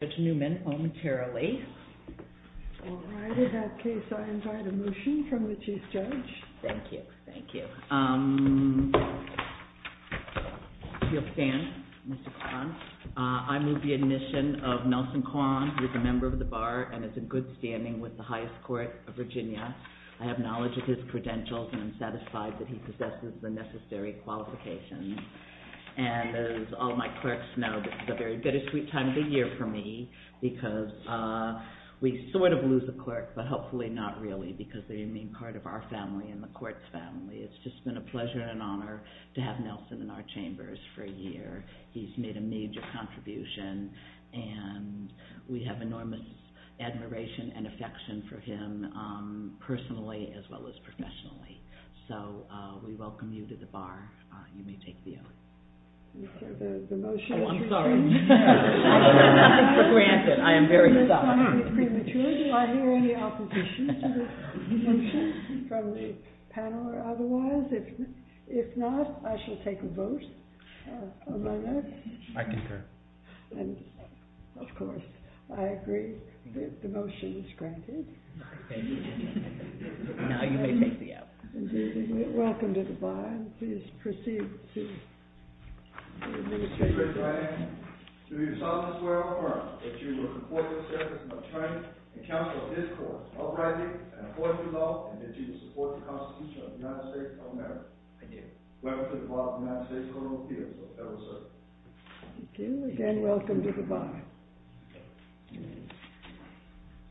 I move the admission of Nelson Kwan, who is a member of the Bar, and is in good standing with the Highest Court of Virginia. I have knowledge of his credentials and am satisfied that he possesses the necessary qualifications. As all my clerks know, this is a very bittersweet time of the year for me because we sort of lose a clerk, but hopefully not really because they remain part of our family and the court's family. It's just been a pleasure and an honor to have Nelson in our chambers for a year. He's made a major contribution and we have enormous admiration and affection for him personally as well as professionally. So, we welcome you to the Bar, you may take the oath. Oh, I'm sorry, I have nothing for granted, I am very sorry. Does this sound premature? Do I hear any opposition to this motion from the panel or otherwise? If not, I shall take a vote on my note. I concur. Of course, I agree that the motion is granted. Now, you may take the oath. Welcome to the Bar. Please proceed to your new chair. Mr. President, I do solemnly swear or affirm that you will support this service and will train and counsel this court uprightly and affordably and that you will support the Constitution of the United States of America. I do. I pledge allegiance to the flag of the United States of America and to the republic for which it stands, one nation, under God, indivisible, with liberty and justice for all. Thank you. Again, welcome to the Bar. Thank you.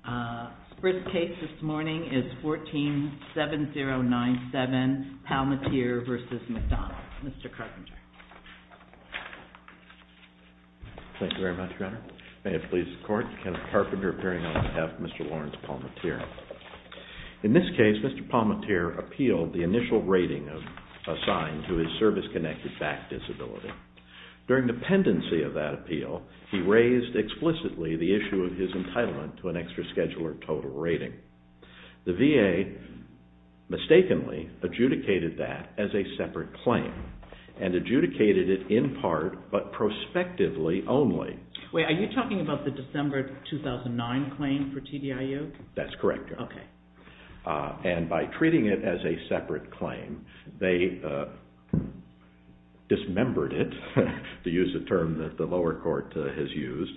The first case this morning is 147097, Palmateer v. McDonald. Mr. Carpenter. Thank you very much, Your Honor. May it please the Court. Kenneth Carpenter appearing on behalf of Mr. Lawrence Palmateer. In this case, Mr. Palmateer appealed the initial rating assigned to his service-connected back disability. During the pendency of that appeal, he raised explicitly the issue of his entitlement to an extra-schedule or total rating. The VA mistakenly adjudicated that as a separate claim and adjudicated it in part but prospectively only. Wait, are you talking about the December 2009 claim for TDIU? That's correct, Your Honor. Okay. And by treating it as a separate claim, they dismembered it, to use a term that the lower court has used,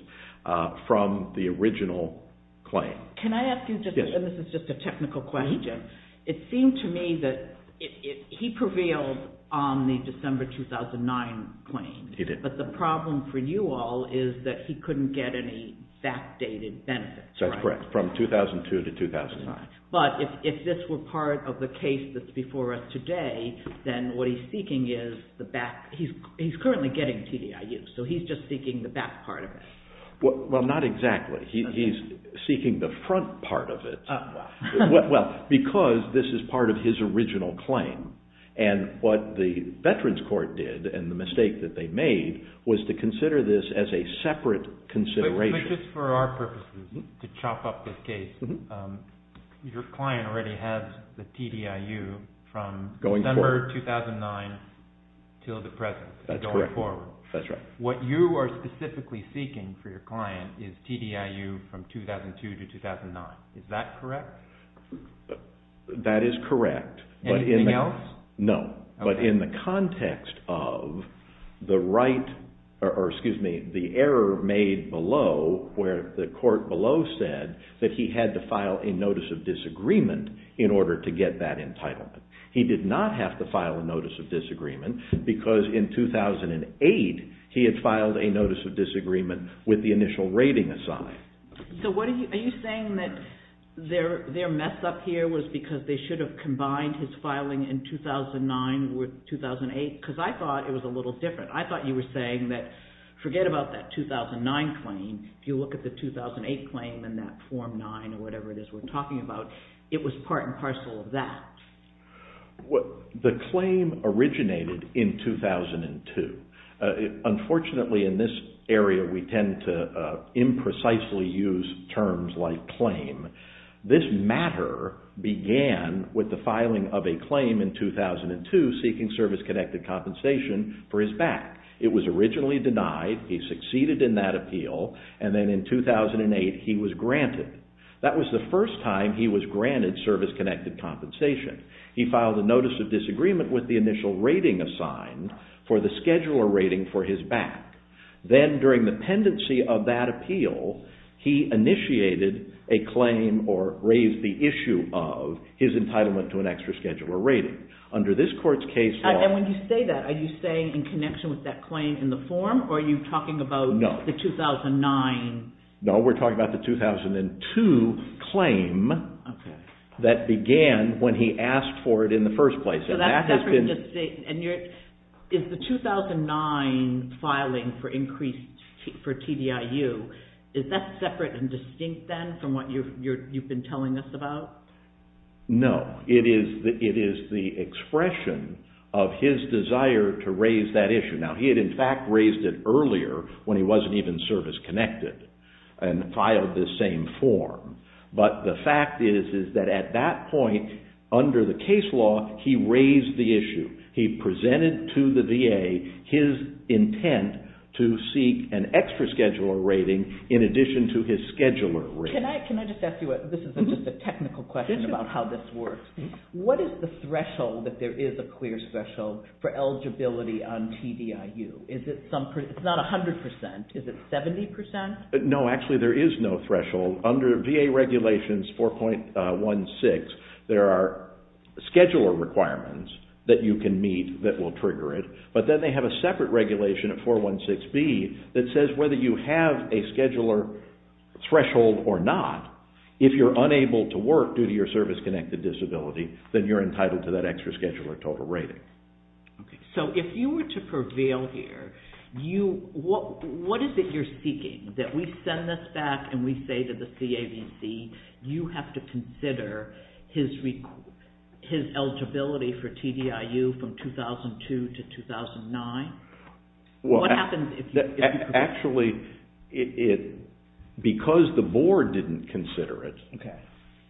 from the original claim. Can I ask you, and this is just a technical question, it seemed to me that he prevailed on the December 2009 claim. He did. But the problem for you all is that he couldn't get any fact-dated benefits, right? That's correct, from 2002 to 2009. But if this were part of the case that's before us today, then what he's seeking is the back – he's currently getting TDIU, so he's just seeking the back part of it. Well, not exactly. He's seeking the front part of it. Oh, wow. Well, because this is part of his original claim, and what the Veterans Court did and the mistake that they made was to consider this as a separate consideration. But just for our purposes, to chop up this case, your client already has the TDIU from December 2009 until the present, going forward. That's correct. That's right. What you are specifically seeking for your client is TDIU from 2002 to 2009. Is that correct? That is correct. Anything else? No, but in the context of the error made below, where the court below said that he had to file a Notice of Disagreement in order to get that entitlement. He did not have to file a Notice of Disagreement because in 2008, he had filed a Notice of Disagreement with the initial rating aside. Are you saying that their mess up here was because they should have combined his filing in 2009 with 2008? Because I thought it was a little different. I thought you were saying that forget about that 2009 claim. If you look at the 2008 claim and that Form 9 or whatever it is we're talking about, it was part and parcel of that. The claim originated in 2002. Unfortunately, in this area, we tend to imprecisely use terms like claim. This matter began with the filing of a claim in 2002 seeking service-connected compensation for his back. It was originally denied. He succeeded in that appeal and then in 2008, he was granted. That was the first time he was granted service-connected compensation. He filed a Notice of Disagreement with the initial rating assigned for the scheduler rating for his back. Then during the pendency of that appeal, he initiated a claim or raised the issue of his entitlement to an extra scheduler rating. Under this court's case law… And when you say that, are you saying in connection with that claim in the form or are you talking about the 2009? No, we're talking about the 2002 claim that began when he asked for it in the first place. Is the 2009 filing for increase for TDIU, is that separate and distinct then from what you've been telling us about? No, it is the expression of his desire to raise that issue. Now, he had in fact raised it earlier when he wasn't even service-connected and filed the same form. But the fact is that at that point, under the case law, he raised the issue. He presented to the VA his intent to seek an extra scheduler rating in addition to his scheduler rating. Can I just ask you a… This is just a technical question about how this works. What is the threshold that there is a clear threshold for eligibility on TDIU? Is it some… It's not 100%. Is it 70%? No, actually there is no threshold. Under VA regulations 4.16, there are scheduler requirements that you can meet that will trigger it. But then they have a separate regulation at 4.16b that says whether you have a scheduler threshold or not, if you're unable to work due to your service-connected disability, then you're entitled to that extra scheduler total rating. So, if you were to prevail here, what is it you're seeking? That we send this back and we say to the CAVC, you have to consider his eligibility for TDIU from 2002 to 2009? Actually, because the board didn't consider it,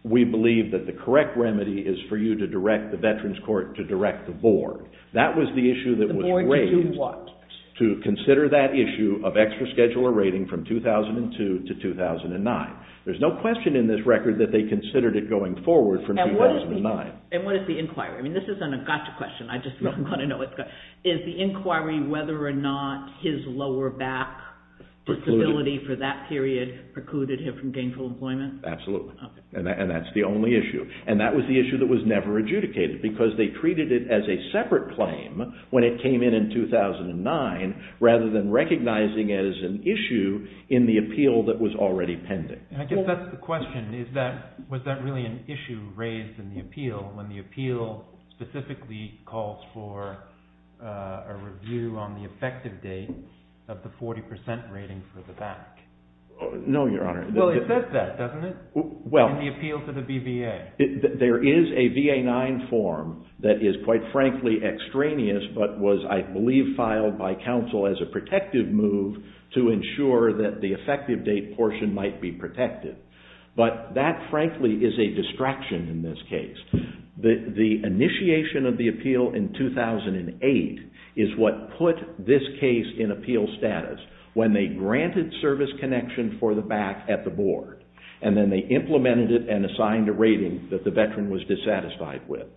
we believe that the correct remedy is for you to direct the veterans court to direct the board. That was the issue that was raised. The board to do what? To consider that issue of extra scheduler rating from 2002 to 2009. There's no question in this record that they considered it going forward from 2009. And what is the inquiry? I mean, this isn't a gotcha question. Is the inquiry whether or not his lower back disability for that period precluded him from gainful employment? Absolutely. And that's the only issue. And that was the issue that was never adjudicated because they treated it as a separate claim when it came in in 2009, rather than recognizing it as an issue in the appeal that was already pending. I guess that's the question. Was that really an issue raised in the appeal when the appeal specifically calls for a review on the effective date of the 40% rating for the back? No, Your Honor. Well, it says that, doesn't it? In the appeal to the BVA. There is a VA-9 form that is, quite frankly, extraneous, but was, I believe, filed by counsel as a protective move to ensure that the effective date portion might be protected. But that, frankly, is a distraction in this case. The initiation of the appeal in 2008 is what put this case in appeal status when they granted service connection for the back at the board, and then they implemented it and assigned a rating that the veteran was dissatisfied with.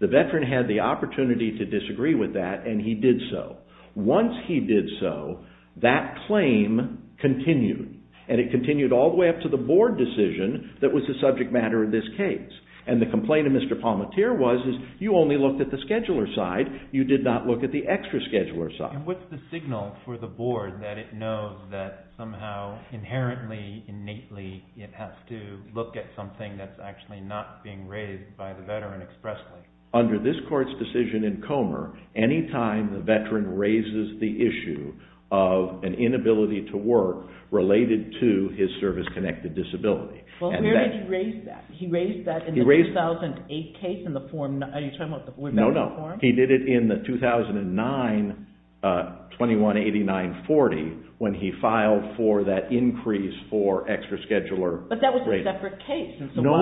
The veteran had the opportunity to disagree with that, and he did so. Once he did so, that claim continued, and it continued all the way up to the board decision that was the subject matter of this case. And the complaint of Mr. Palmateer was, you only looked at the scheduler side. You did not look at the extra scheduler side. And what's the signal for the board that it knows that somehow, inherently, innately, it has to look at something that's actually not being raised by the veteran expressly? Under this court's decision in Comer, any time the veteran raises the issue of an inability to work related to his service-connected disability. Well, where did he raise that? He raised that in the 2008 case in the form... Are you talking about the form? No, no. He did it in the 2009-21-89-40 when he filed for that increase for extra scheduler. But that was a separate case. No, no,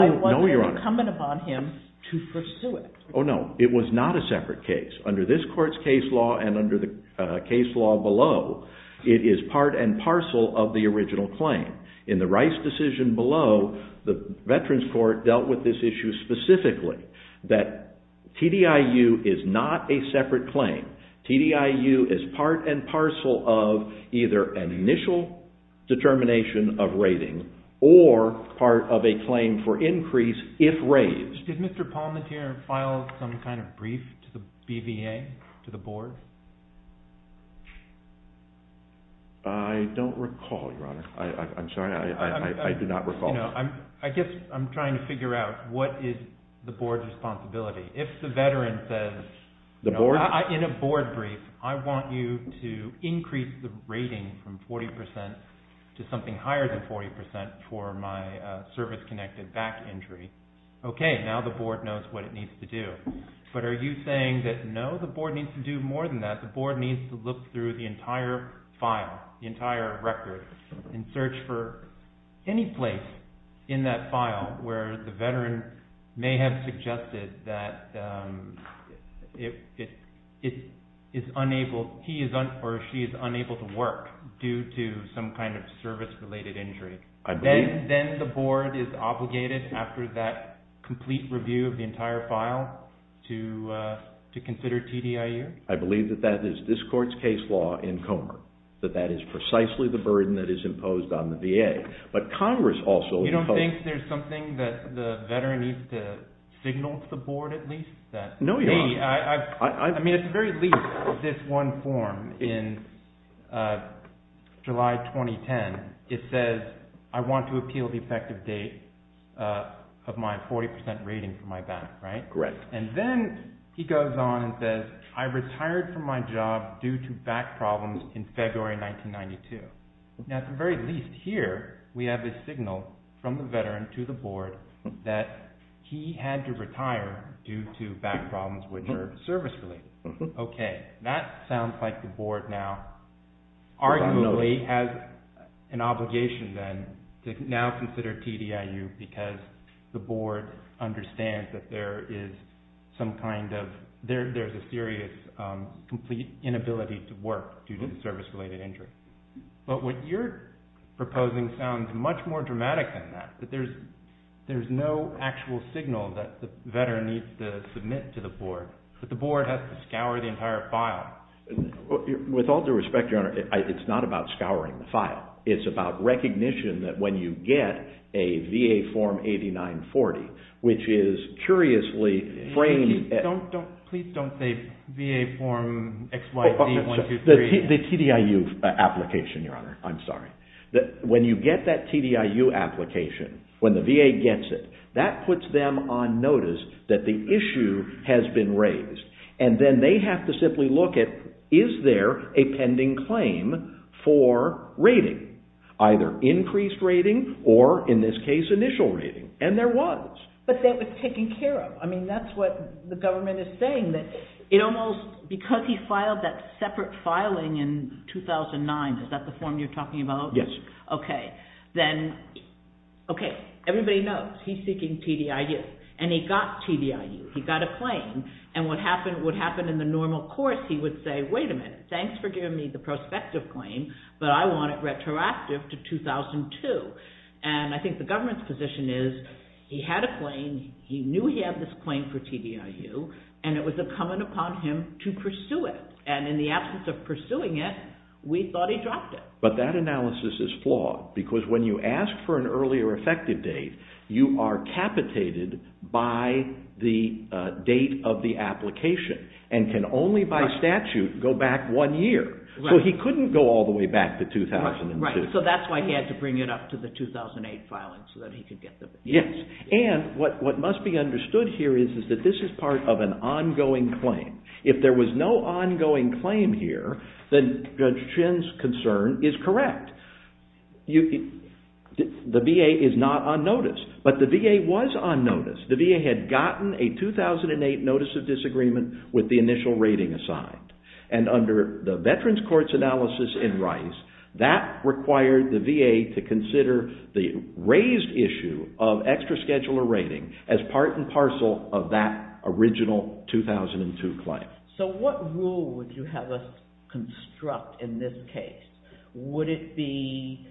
Your Honor. It was incumbent upon him to pursue it. Oh, no. It was not a separate case. Under this court's case law and under the case law below, it is part and parcel of the original claim. In the Rice decision below, the Veterans Court dealt with this issue specifically, that TDIU is not a separate claim. TDIU is part and parcel of either an initial determination of rating, or part of a claim for increase if raised. Did Mr. Palmentier file some kind of brief to the BVA, to the board? I don't recall, Your Honor. I'm sorry. I did not recall. I guess I'm trying to figure out what is the board's responsibility. If the veteran says... The board? I want you to increase the rating from 40% to something higher than 40% for my service-connected back injury. Okay. Now the board knows what it needs to do. But are you saying that, no, the board needs to do more than that? The board needs to look through the entire file, the entire record, and search for any place in that file where the veteran may have suggested that he or she is unable to work due to some kind of service-related injury. Then the board is obligated, after that complete review of the entire file, to consider TDIU? I believe that that is this court's case law in Comer. That that is precisely the burden that is imposed on the VA. But Congress also... You don't think there's something that the veteran needs to signal to the board, at least? No, Your Honor. I mean, at the very least, this one form in July 2010, it says, I want to appeal the effective date of my 40% rating for my back, right? Correct. And then he goes on and says, I retired from my job due to back problems in February 1992. Now at the very least here, we have a signal from the veteran to the board that he had to retire due to back problems which are service-related. Okay. That sounds like the board now arguably has an obligation then to now consider TDIU because the board understands that there is some kind of... There's a serious, complete inability to work due to service-related injury. But what you're proposing sounds much more dramatic than that, that there's no actual signal that the veteran needs to submit to the board, but the board has to scour the entire file. With all due respect, Your Honor, it's not about scouring the file. It's about recognition that when you get a VA Form 8940, which is curiously framed... Please don't say VA Form XYZ-123. The TDIU application, Your Honor. I'm sorry. When you get that TDIU application, when the VA gets it, that puts them on notice that the issue has been raised. And then they have to simply look at, is there a pending claim for rating, either increased rating or, in this case, initial rating? And there was. But that was taken care of. I mean, that's what the government is saying. It almost, because he filed that separate filing in 2009, is that the form you're talking about? Yes. Okay. Then, okay, everybody knows he's seeking TDIU, and he got TDIU. He got a claim. And what would happen in the normal course, he would say, wait a minute, thanks for giving me the prospective claim, but I want it retroactive to 2002. And I think the government's position is he had a claim, he knew he had this claim for TDIU, and it was incumbent upon him to pursue it. And in the absence of pursuing it, we thought he dropped it. But that analysis is flawed, because when you ask for an earlier effective date, you are capitated by the date of the application, and can only by statute go back one year. So he couldn't go all the way back to 2006. Right. So that's why he had to bring it up to the 2008 filing, so that he could get the date. Yes. And what must be understood here is that this is part of an ongoing claim. If there was no ongoing claim here, then Judge Chin's concern is correct. The VA is not on notice, but the VA was on notice. The VA had gotten a 2008 notice of disagreement with the initial rating assigned. And under the Veterans Courts analysis in Rice, that required the VA to consider the raised issue of extra scheduler rating as part and parcel of that original 2002 claim. So what rule would you have us construct in this case? Would it be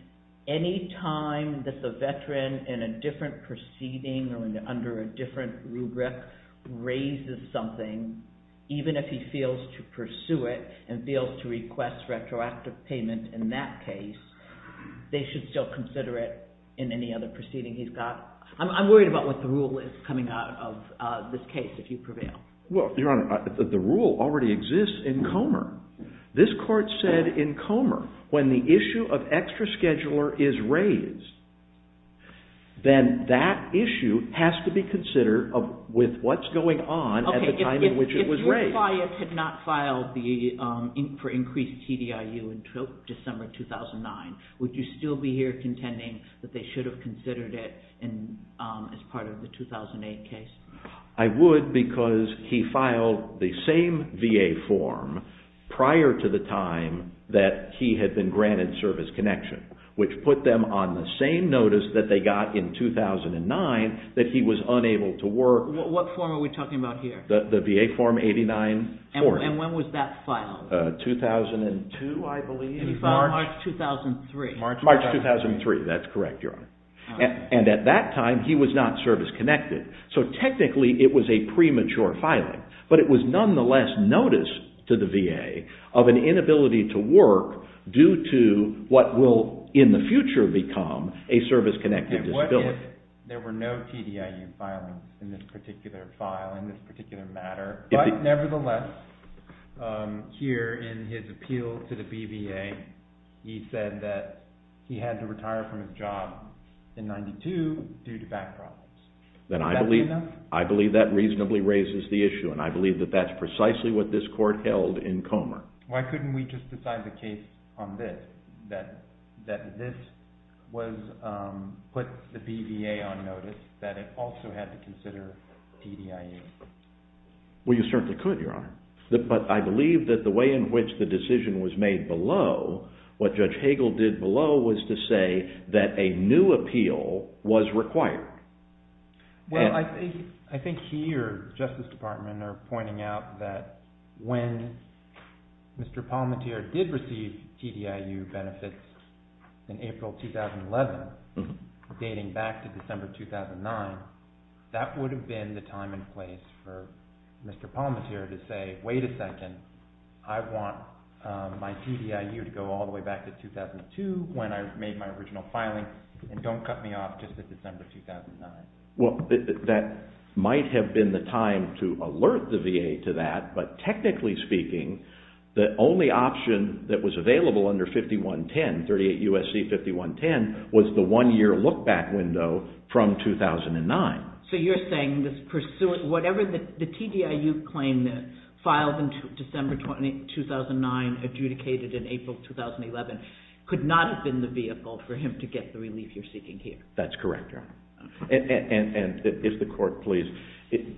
any time that the veteran in a different proceeding or under a different rubric raises something, even if he feels to pursue it and feels to request retroactive payment in that case, they should still consider it in any other proceeding he's got? I'm worried about what the rule is coming out of this case, if you prevail. Well, Your Honor, the rule already exists in Comer. This Court said in Comer, when the issue of extra scheduler is raised, then that issue has to be considered with what's going on at the time in which it was raised. If your client had not filed for increased TDIU in December 2009, would you still be here contending that they should have considered it as part of the 2008 case? I would because he filed the same VA form prior to the time that he had been granted service connection, which put them on the same notice that they got in 2009 that he was unable to work. What form are we talking about here? The VA form 89-4. And when was that filed? 2002, I believe. And he filed March 2003. March 2003, that's correct, Your Honor. And at that time, he was not service connected. So technically, it was a premature filing, but it was nonetheless notice to the VA of an inability to work due to what will in the future become a service-connected disability. And what if there were no TDIU filings in this particular file, in this particular matter? But nevertheless, here in his appeal to the BVA, he said that he had to retire from his job in 92 due to back problems. That's enough? I believe that reasonably raises the issue, and I believe that that's precisely what this court held in Comer. Why couldn't we just decide the case on this, that this put the BVA on notice that it also had to consider TDIU? Well, you certainly could, Your Honor. But I believe that the way in which the decision was made below, what Judge Hagel did below was to say that a new appeal was required. Well, I think he or the Justice Department are pointing out that when Mr. Palmateer did receive TDIU benefits in April 2011, dating back to December 2009, that would have been the time and place for Mr. Palmateer to say, wait a second, I want my TDIU to go all the way back to 2002 when I made my original filing, and don't cut me off just at December 2009. Well, that might have been the time to alert the VA to that, but technically speaking, the only option that was available under 5110, 38 U.S.C. 5110, was the one-year look-back window from 2009. So you're saying this pursuant, whatever the TDIU claim that filed in December 2009, adjudicated in April 2011, could not have been the vehicle for him to get the relief you're seeking here? That's correct, Your Honor. And if the Court please,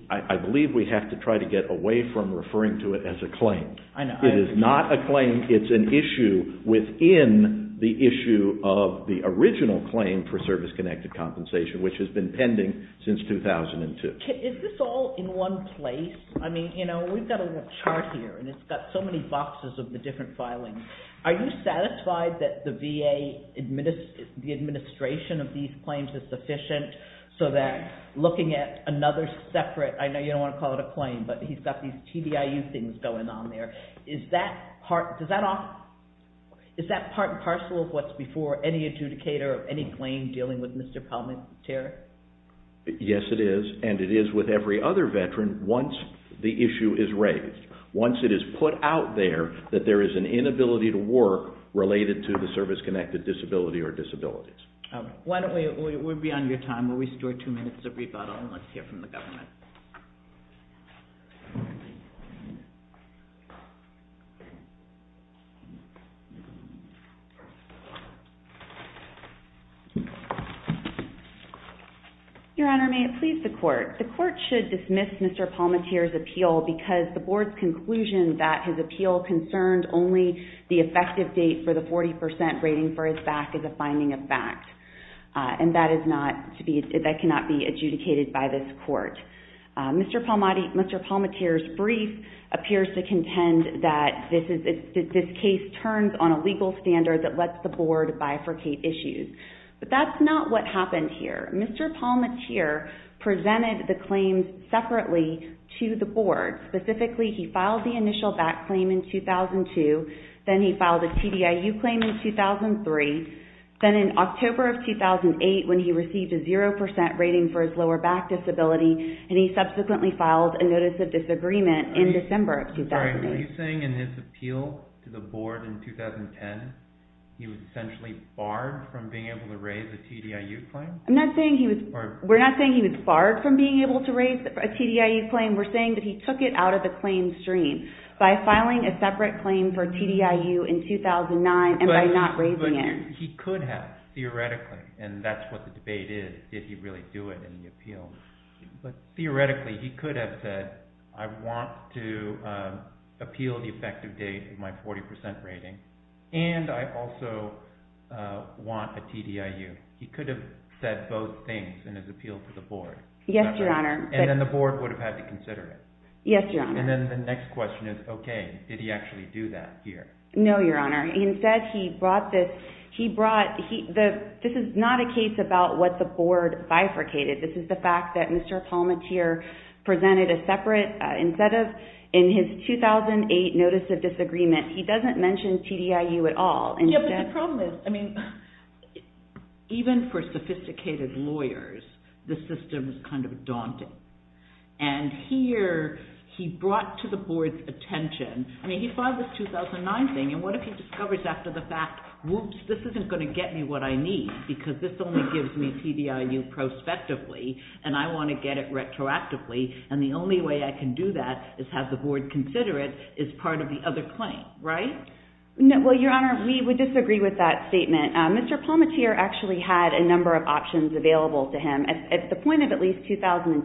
I believe we have to try to get away from referring to it as a claim. It is not a claim. It's an issue within the issue of the original claim for service-connected compensation, which has been pending since 2002. Is this all in one place? I mean, you know, we've got a chart here, and it's got so many boxes of the different filings. Are you satisfied that the VA administration of these claims is sufficient so that looking at another separate, I know you don't want to call it a claim, but he's got these TDIU things going on there, is that part and parcel of what's before any adjudicator of any claim dealing with Mr. Palminteri? Yes, it is. And it is with every other veteran once the issue is raised, once it is put out there that there is an inability to work related to the service-connected disability or disabilities. Why don't we be on your time? We'll restore two minutes of rebuttal, and let's hear from the government. Your Honor, may it please the Court. The Court should dismiss Mr. Palminteri's appeal because the Board's conclusion that his appeal concerned only the effective date for the 40% rating for his back is a finding of fact, and that cannot be adjudicated by this Court. Mr. Palminteri's brief appears to contend that this case turns on a legal standard that lets the Board bifurcate issues. But that's not what happened here. Mr. Palminteri presented the claims separately to the Board. Specifically, he filed the initial back claim in 2002, then he filed a TDIU claim in 2003, then in October of 2008 when he received a 0% rating for his lower back disability, and he subsequently filed a notice of disagreement in December of 2008. Are you saying in his appeal to the Board in 2010, he was essentially barred from being able to raise a TDIU claim? We're not saying he was barred from being able to raise a TDIU claim. We're saying that he took it out of the claim stream by filing a separate claim for TDIU in 2009 and by not raising it. But he could have, theoretically, and that's what the debate is. Did he really do it in the appeal? But theoretically, he could have said, I want to appeal the effective date of my 40% rating, and I also want a TDIU. He could have said both things in his appeal to the Board. Yes, Your Honor. And then the Board would have had to consider it. Yes, Your Honor. And then the next question is, okay, did he actually do that here? No, Your Honor. Instead, he brought this, he brought, this is not a case about what the Board bifurcated. This is the fact that Mr. Palmateer presented a separate, instead of in his 2008 notice of disagreement, he doesn't mention TDIU at all. Yes, but the problem is, I mean, even for sophisticated lawyers, the system is kind of daunting. And here, he brought to the Board's attention, I mean, he filed this 2009 thing, and what if he discovers after the fact, whoops, this isn't going to get me what I need because this only gives me TDIU prospectively, and I want to get it retroactively, and the only way I can do that is have the Board consider it as part of the other claim, right? No, well, Your Honor, we would disagree with that statement. Mr. Palmateer actually had a number of options available to him. At the point of at least 2010,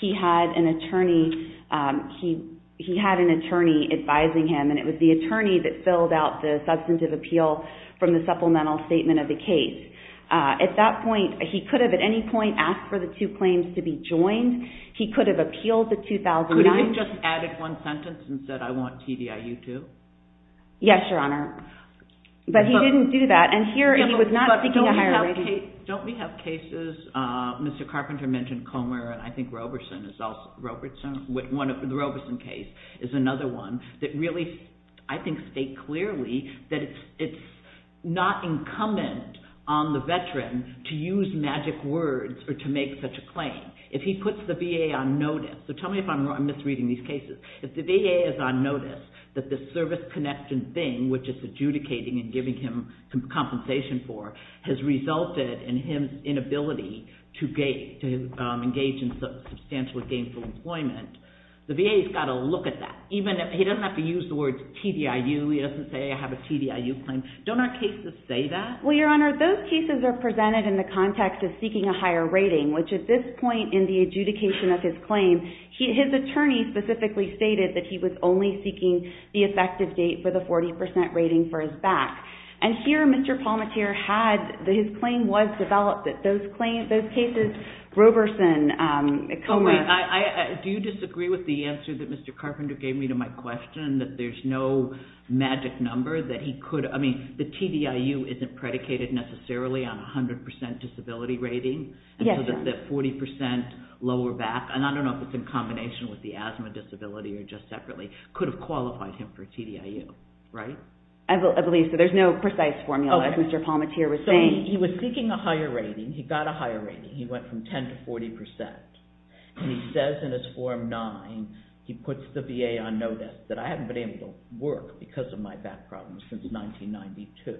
he had an attorney, he had an attorney advising him, and it was the attorney that filled out the substantive appeal from the supplemental statement of the case. At that point, he could have, at any point, asked for the two claims to be joined. He could have appealed the 2009. Could he have just added one sentence and said, I want TDIU too? Yes, Your Honor, but he didn't do that, and here he was not seeking a higher rating. Don't we have cases, Mr. Carpenter mentioned Comer, and I think Robertson is also, the Robertson case is another one that really, I think, states clearly that it's not incumbent on the veteran to use magic words or to make such a claim. If he puts the VA on notice, so tell me if I'm misreading these cases. If the VA is on notice that the service connection thing, which is adjudicating and giving him compensation for, has resulted in his inability to engage in substantially gainful employment, the VA's got to look at that. Even if he doesn't have to use the word TDIU, he doesn't say, I have a TDIU claim. Don't our cases say that? Well, Your Honor, those cases are presented in the context of seeking a higher rating, which at this point in the adjudication of his claim, his attorney specifically stated that he was only seeking the effective date for the 40% rating for his back, and here Mr. Palmateer had, his claim was developed that those cases, Robertson, Comer. Oh, wait, do you disagree with the answer that Mr. Carpenter gave me to my question, that there's no magic number that he could, I mean, the TDIU isn't predicated necessarily on 100% disability rating, and so that 40% lower back, and I don't know if it's in combination with the asthma disability or just separately, could have qualified him for TDIU, right? I believe so. There's no precise formula, as Mr. Palmateer was saying. So he was seeking a higher rating. He got a higher rating. He went from 10% to 40%, and he says in his Form 9, he puts the VA on notice that I haven't been able to work because of my back problems since 1992.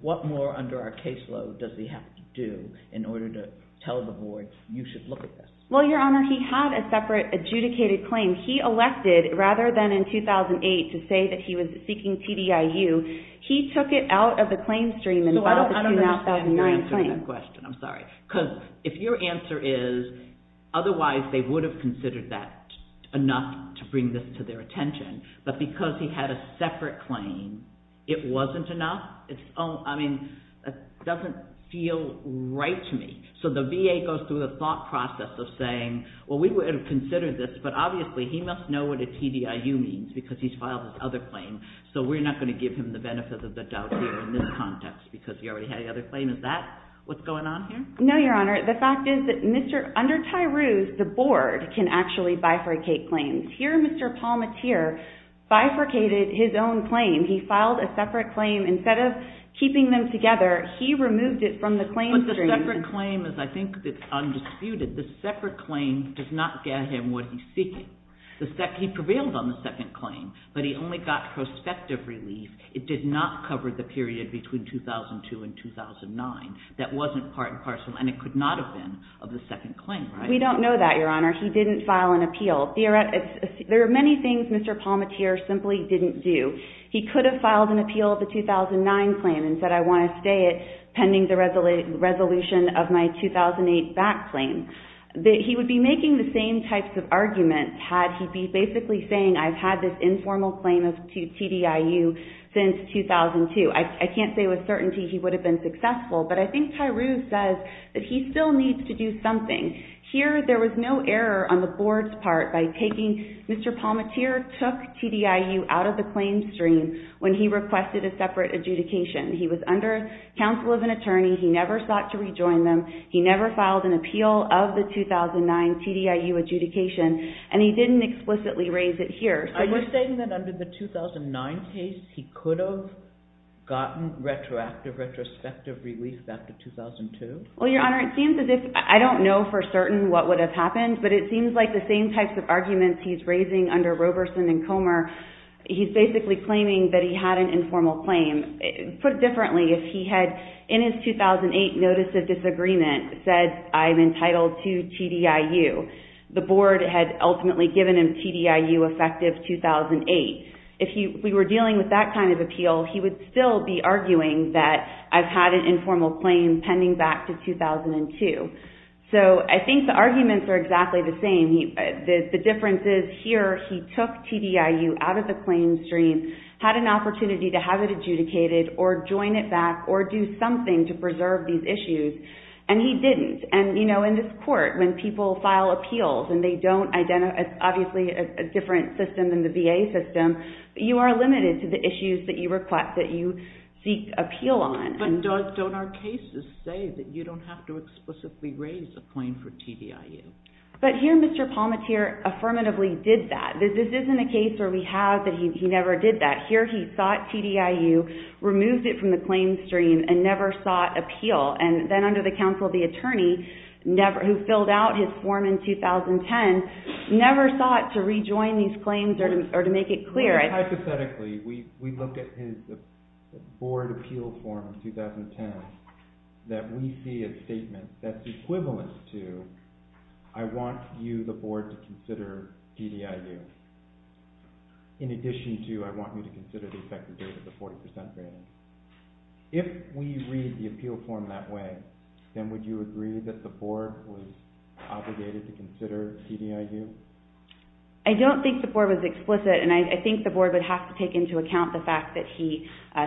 What more under our caseload does he have to do in order to tell the board, you should look at this? Well, Your Honor, he had a separate adjudicated claim. He elected, rather than in 2008, to say that he was seeking TDIU, he took it out of the claim stream and filed the 2009 claim. So I don't understand your answer to that question. I'm sorry. Because if your answer is, otherwise they would have considered that enough to bring this to their attention, but because he had a separate claim, it wasn't enough? I mean, that doesn't feel right to me. So the VA goes through the thought process of saying, well, we would have considered this, but obviously he must know what a TDIU means because he's filed this other claim, so we're not going to give him the benefit of the doubt here in this context because he already had the other claim. Is that what's going on here? No, Your Honor. The fact is that under TDIU, the board can actually bifurcate claims. Here, Mr. Palmatier bifurcated his own claim. He filed a separate claim. Instead of keeping them together, he removed it from the claim stream. But the separate claim is, I think, undisputed. The separate claim does not get him what he's seeking. He prevailed on the second claim, but he only got prospective relief. It did not cover the period between 2002 and 2009. That wasn't part and parcel, and it could not have been of the second claim, right? We don't know that, Your Honor. He didn't file an appeal. There are many things Mr. Palmatier simply didn't do. He could have filed an appeal of the 2009 claim and said, I want to stay it pending the resolution of my 2008 back claim. He would be making the same types of arguments had he been basically saying, I've had this informal claim of TDIU since 2002. I can't say with certainty he would have been successful, but I think Tyreuse says that he still needs to do something. Here, there was no error on the board's part by taking Mr. Palmatier took TDIU out of the claim stream when he requested a separate adjudication. He was under counsel of an attorney. He never sought to rejoin them. He never filed an appeal of the 2009 TDIU adjudication, and he didn't explicitly raise it here. Are you saying that under the 2009 case, he could have gotten retrospective relief after 2002? Well, Your Honor, it seems as if I don't know for certain what would have happened, but it seems like the same types of arguments he's raising under Roberson and Comer, he's basically claiming that he had an informal claim. Put differently, if he had in his 2008 notice of disagreement said, I'm entitled to TDIU, the board had ultimately given him TDIU effective 2008. If we were dealing with that kind of appeal, he would still be arguing that I've had an informal claim pending back to 2002. So I think the arguments are exactly the same. The difference is here, he took TDIU out of the claim stream, had an opportunity to have it adjudicated or join it back or do something to preserve these issues, and he didn't. In this court, when people file appeals, and they don't identify, obviously, a different system than the VA system, you are limited to the issues that you request, that you seek appeal on. But don't our cases say that you don't have to explicitly raise a claim for TDIU? But here, Mr. Palmatier affirmatively did that. This isn't a case where we have that he never did that. Here, he sought TDIU, removed it from the claim stream, and never sought appeal. And then under the counsel of the attorney, who filled out his form in 2010, never sought to rejoin these claims or to make it clear. Hypothetically, we look at his board appeal form in 2010, that we see a statement that's equivalent to, I want you, the board, to consider TDIU. In addition to, I want you to consider the effective date of the 40% rating. If we read the appeal form that way, then would you agree that the board was obligated to consider TDIU? I don't think the board was explicit, and I think the board would have to take into account the fact that he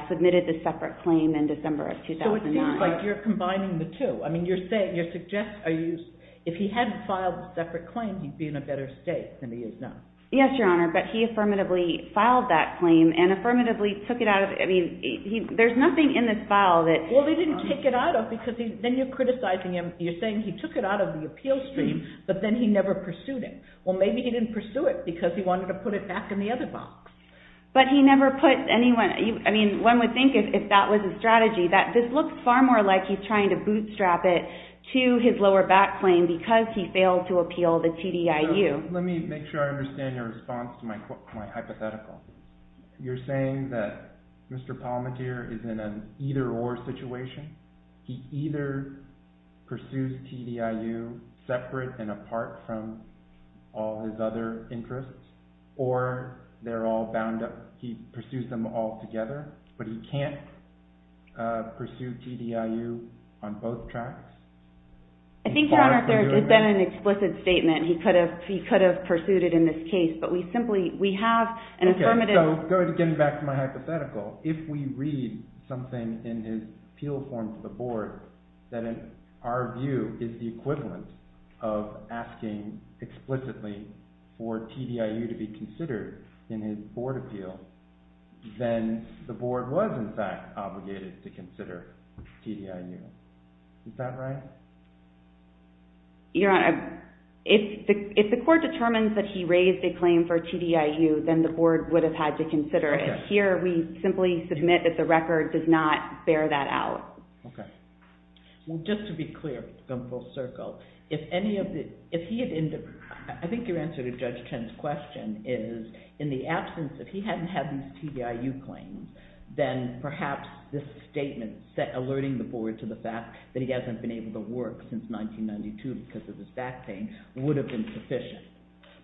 submitted the separate claim in December of 2009. So it seems like you're combining the two. I mean, you're saying, you're suggesting, if he had filed a separate claim, he'd be in a better state than he is now. Yes, Your Honor, but he affirmatively filed that claim and affirmatively took it out of, I mean, there's nothing in this file that... Then you're criticizing him. You're saying he took it out of the appeal stream, but then he never pursued it. Well, maybe he didn't pursue it because he wanted to put it back in the other box. But he never put anyone... I mean, one would think, if that was his strategy, that this looks far more like he's trying to bootstrap it to his lower back claim because he failed to appeal the TDIU. Let me make sure I understand your response to my hypothetical. You're saying that Mr. Palmecchiare is in an either-or situation? He either pursues TDIU separate and apart from all his other interests, or they're all bound up... He pursues them all together, but he can't pursue TDIU on both tracks? I think, Your Honor, there has been an explicit statement. He could have pursued it in this case, but we simply, we have an affirmative... Okay, so going back to my hypothetical, if we read something in his appeal form to the board that, in our view, is the equivalent of asking explicitly for TDIU to be considered in his board appeal, then the board was, in fact, obligated to consider TDIU. Is that right? Your Honor, if the court determines that he raised a claim for TDIU, then the board would have had to consider it. But here, we simply submit that the record does not bear that out. Okay. Well, just to be clear, going full circle, if any of the... I think your answer to Judge Chen's question is, in the absence, if he hadn't had these TDIU claims, then perhaps this statement, alerting the board to the fact that he hasn't been able to work since 1992 because of his back pain, would have been sufficient.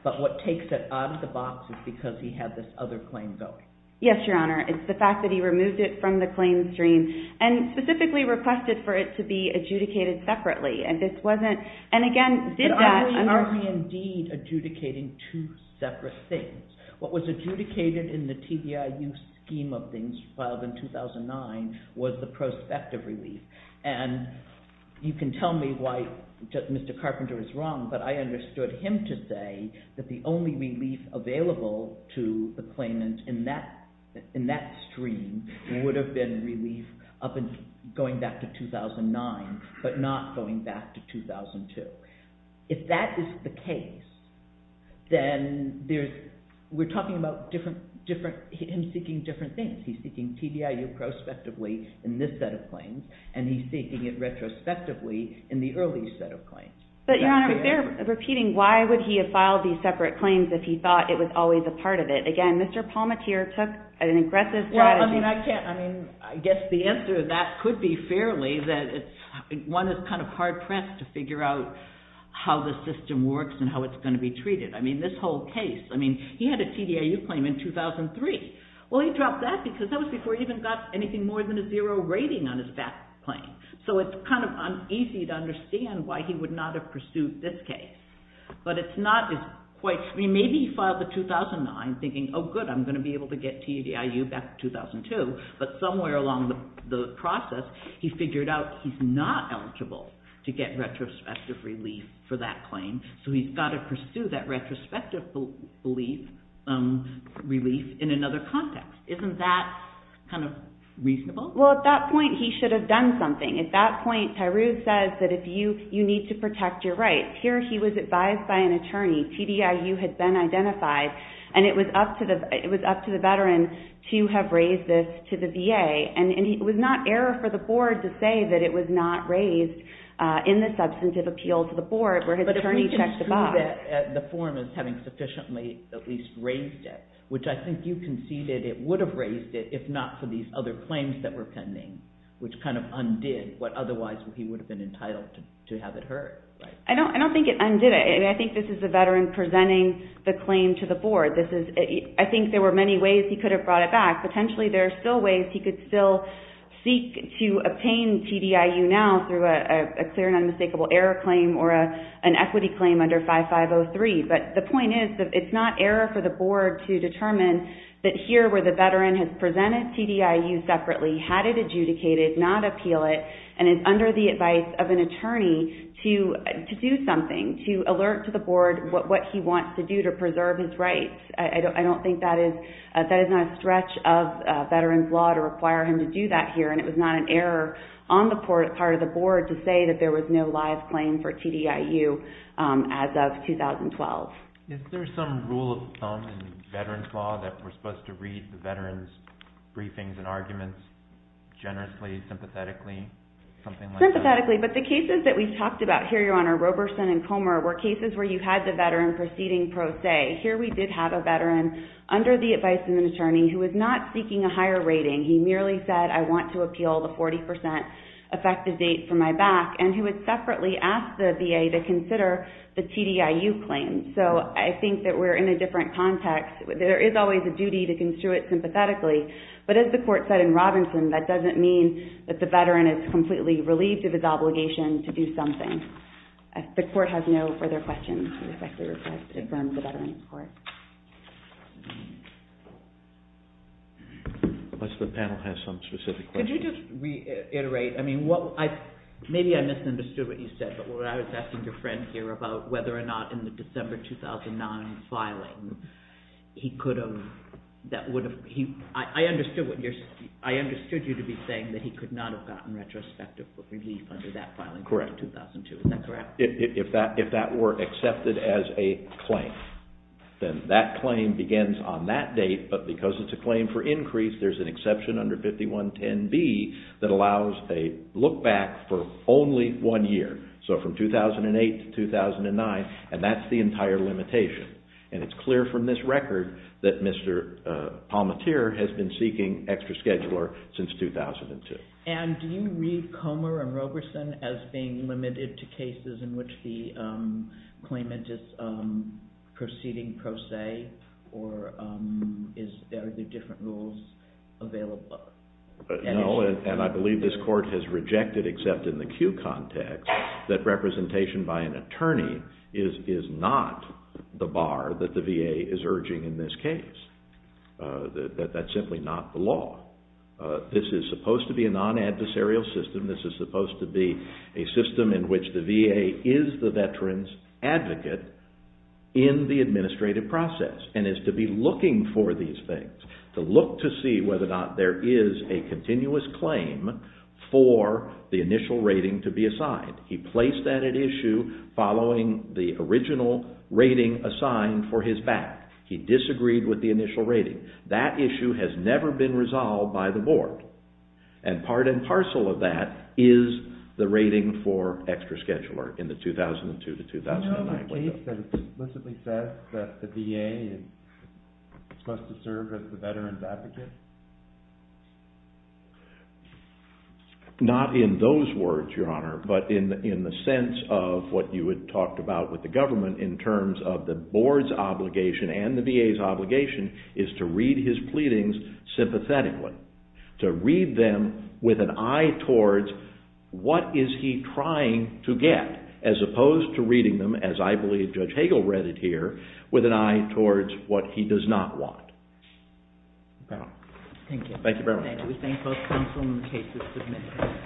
But what takes it out of the box is because he had this other claim going. Yes, your Honor. It's the fact that he removed it from the claim stream and specifically requested for it to be adjudicated separately. And this wasn't... And again, did that... But are we indeed adjudicating two separate things? What was adjudicated in the TDIU scheme of things filed in 2009 was the prospective relief. And you can tell me why Mr. Carpenter is wrong, but I understood him to say that the only relief available to the claimant in that stream would have been relief going back to 2009, but not going back to 2002. If that is the case, then there's... We're talking about him seeking different things. He's seeking TDIU prospectively in this set of claims, in the early set of claims. But, your Honor, if they're repeating, why would he have filed these separate claims if he thought it was always a part of it? Again, Mr. Palmateer took an aggressive strategy... Well, I mean, I can't... I mean, I guess the answer to that could be fairly that one is kind of hard-pressed to figure out how the system works and how it's going to be treated. I mean, this whole case... I mean, he had a TDIU claim in 2003. Well, he dropped that because that was before he even got anything more than a zero rating on his back claim. So it's kind of uneasy to understand why he would not have pursued this case. But it's not as quite... I mean, maybe he filed the 2009 thinking, oh, good, I'm going to be able to get TDIU back to 2002. But somewhere along the process, he figured out he's not eligible to get retrospective relief for that claim, so he's got to pursue that retrospective relief in another context. Isn't that kind of reasonable? Well, at that point, he should have done something. At that point, Tyrone says that you need to protect your rights. Here, he was advised by an attorney. TDIU had been identified, and it was up to the veteran to have raised this to the VA. And it was not error for the board to say that it was not raised in the substantive appeal to the board where his attorney checked the box. But if we can prove it, the forum is having sufficiently at least raised it, which I think you conceded it would have raised it if not for these other claims that were pending, which kind of undid what otherwise he would have been entitled to have it heard. I don't think it undid it. I think this is the veteran presenting the claim to the board. I think there were many ways he could have brought it back. Potentially, there are still ways he could still seek to obtain TDIU now through a clear and unmistakable error claim or an equity claim under 5503. But the point is that it's not error for the board to determine that here where the veteran has presented TDIU separately, had it adjudicated, not appeal it, and is under the advice of an attorney to do something, to alert to the board what he wants to do to preserve his rights. I don't think that is not a stretch of veterans' law to require him to do that here, and it was not an error on the part of the board to say that there was no live claim for TDIU as of 2012. Is there some rule of thumb in veterans' law that we're supposed to read the veteran's briefings and arguments generously, sympathetically, something like that? Sympathetically. But the cases that we've talked about here, Your Honor, Roberson and Comer, were cases where you had the veteran proceeding pro se. Here we did have a veteran under the advice of an attorney who was not seeking a higher rating. He merely said, I want to appeal the 40% effective date for my back, and who had separately asked the VA to consider the TDIU claim. So I think that we're in a different context. There is always a duty to construe it sympathetically, but as the Court said in Roberson, that doesn't mean that the veteran is completely relieved of his obligation to do something. The Court has no further questions. I respectfully request to confirm the veteran's report. Unless the panel has some specific questions. Could you just reiterate? Maybe I misunderstood what you said, but what I was asking your friend here about whether or not in the December 2009 filing, I understood you to be saying that he could not have gotten retrospective relief under that filing for 2002. Is that correct? If that were accepted as a claim, then that claim begins on that date, but because it's a claim for increase, there's an exception under 5110B that allows a look back for only one year. So from 2008 to 2009, and that's the entire limitation. And it's clear from this record that Mr. Palmatier has been seeking extra scheduler since 2002. And do you read Comer and Roberson as being limited to cases in which the claimant is proceeding pro se, or are there different rules available? No, and I believe this Court has rejected except in the Q context, that representation by an attorney is not the bar that the VA is urging in this case. That's simply not the law. This is supposed to be a non-adversarial system. This is supposed to be a system in which the VA is the veteran's advocate in the administrative process and is to be looking for these things, to look to see whether or not there is a continuous claim for the initial rating to be assigned. He placed that at issue following the original rating assigned for his back. He disagreed with the initial rating. That issue has never been resolved by the Board. And part and parcel of that is the rating for extra scheduler in the 2002 to 2009 window. Do you know of a case that explicitly says that the VA is supposed to serve as the veteran's advocate? Not in those words, Your Honor, but in the sense of what you had talked about with the government in terms of the Board's obligation and the VA's obligation is to read his pleadings sympathetically, to read them with an eye towards what is he trying to get, as opposed to reading them, as I believe Judge Hagel read it here, with an eye towards what he does not want. Thank you. Thank you very much. Thank you. We thank both counsel and the cases submitted.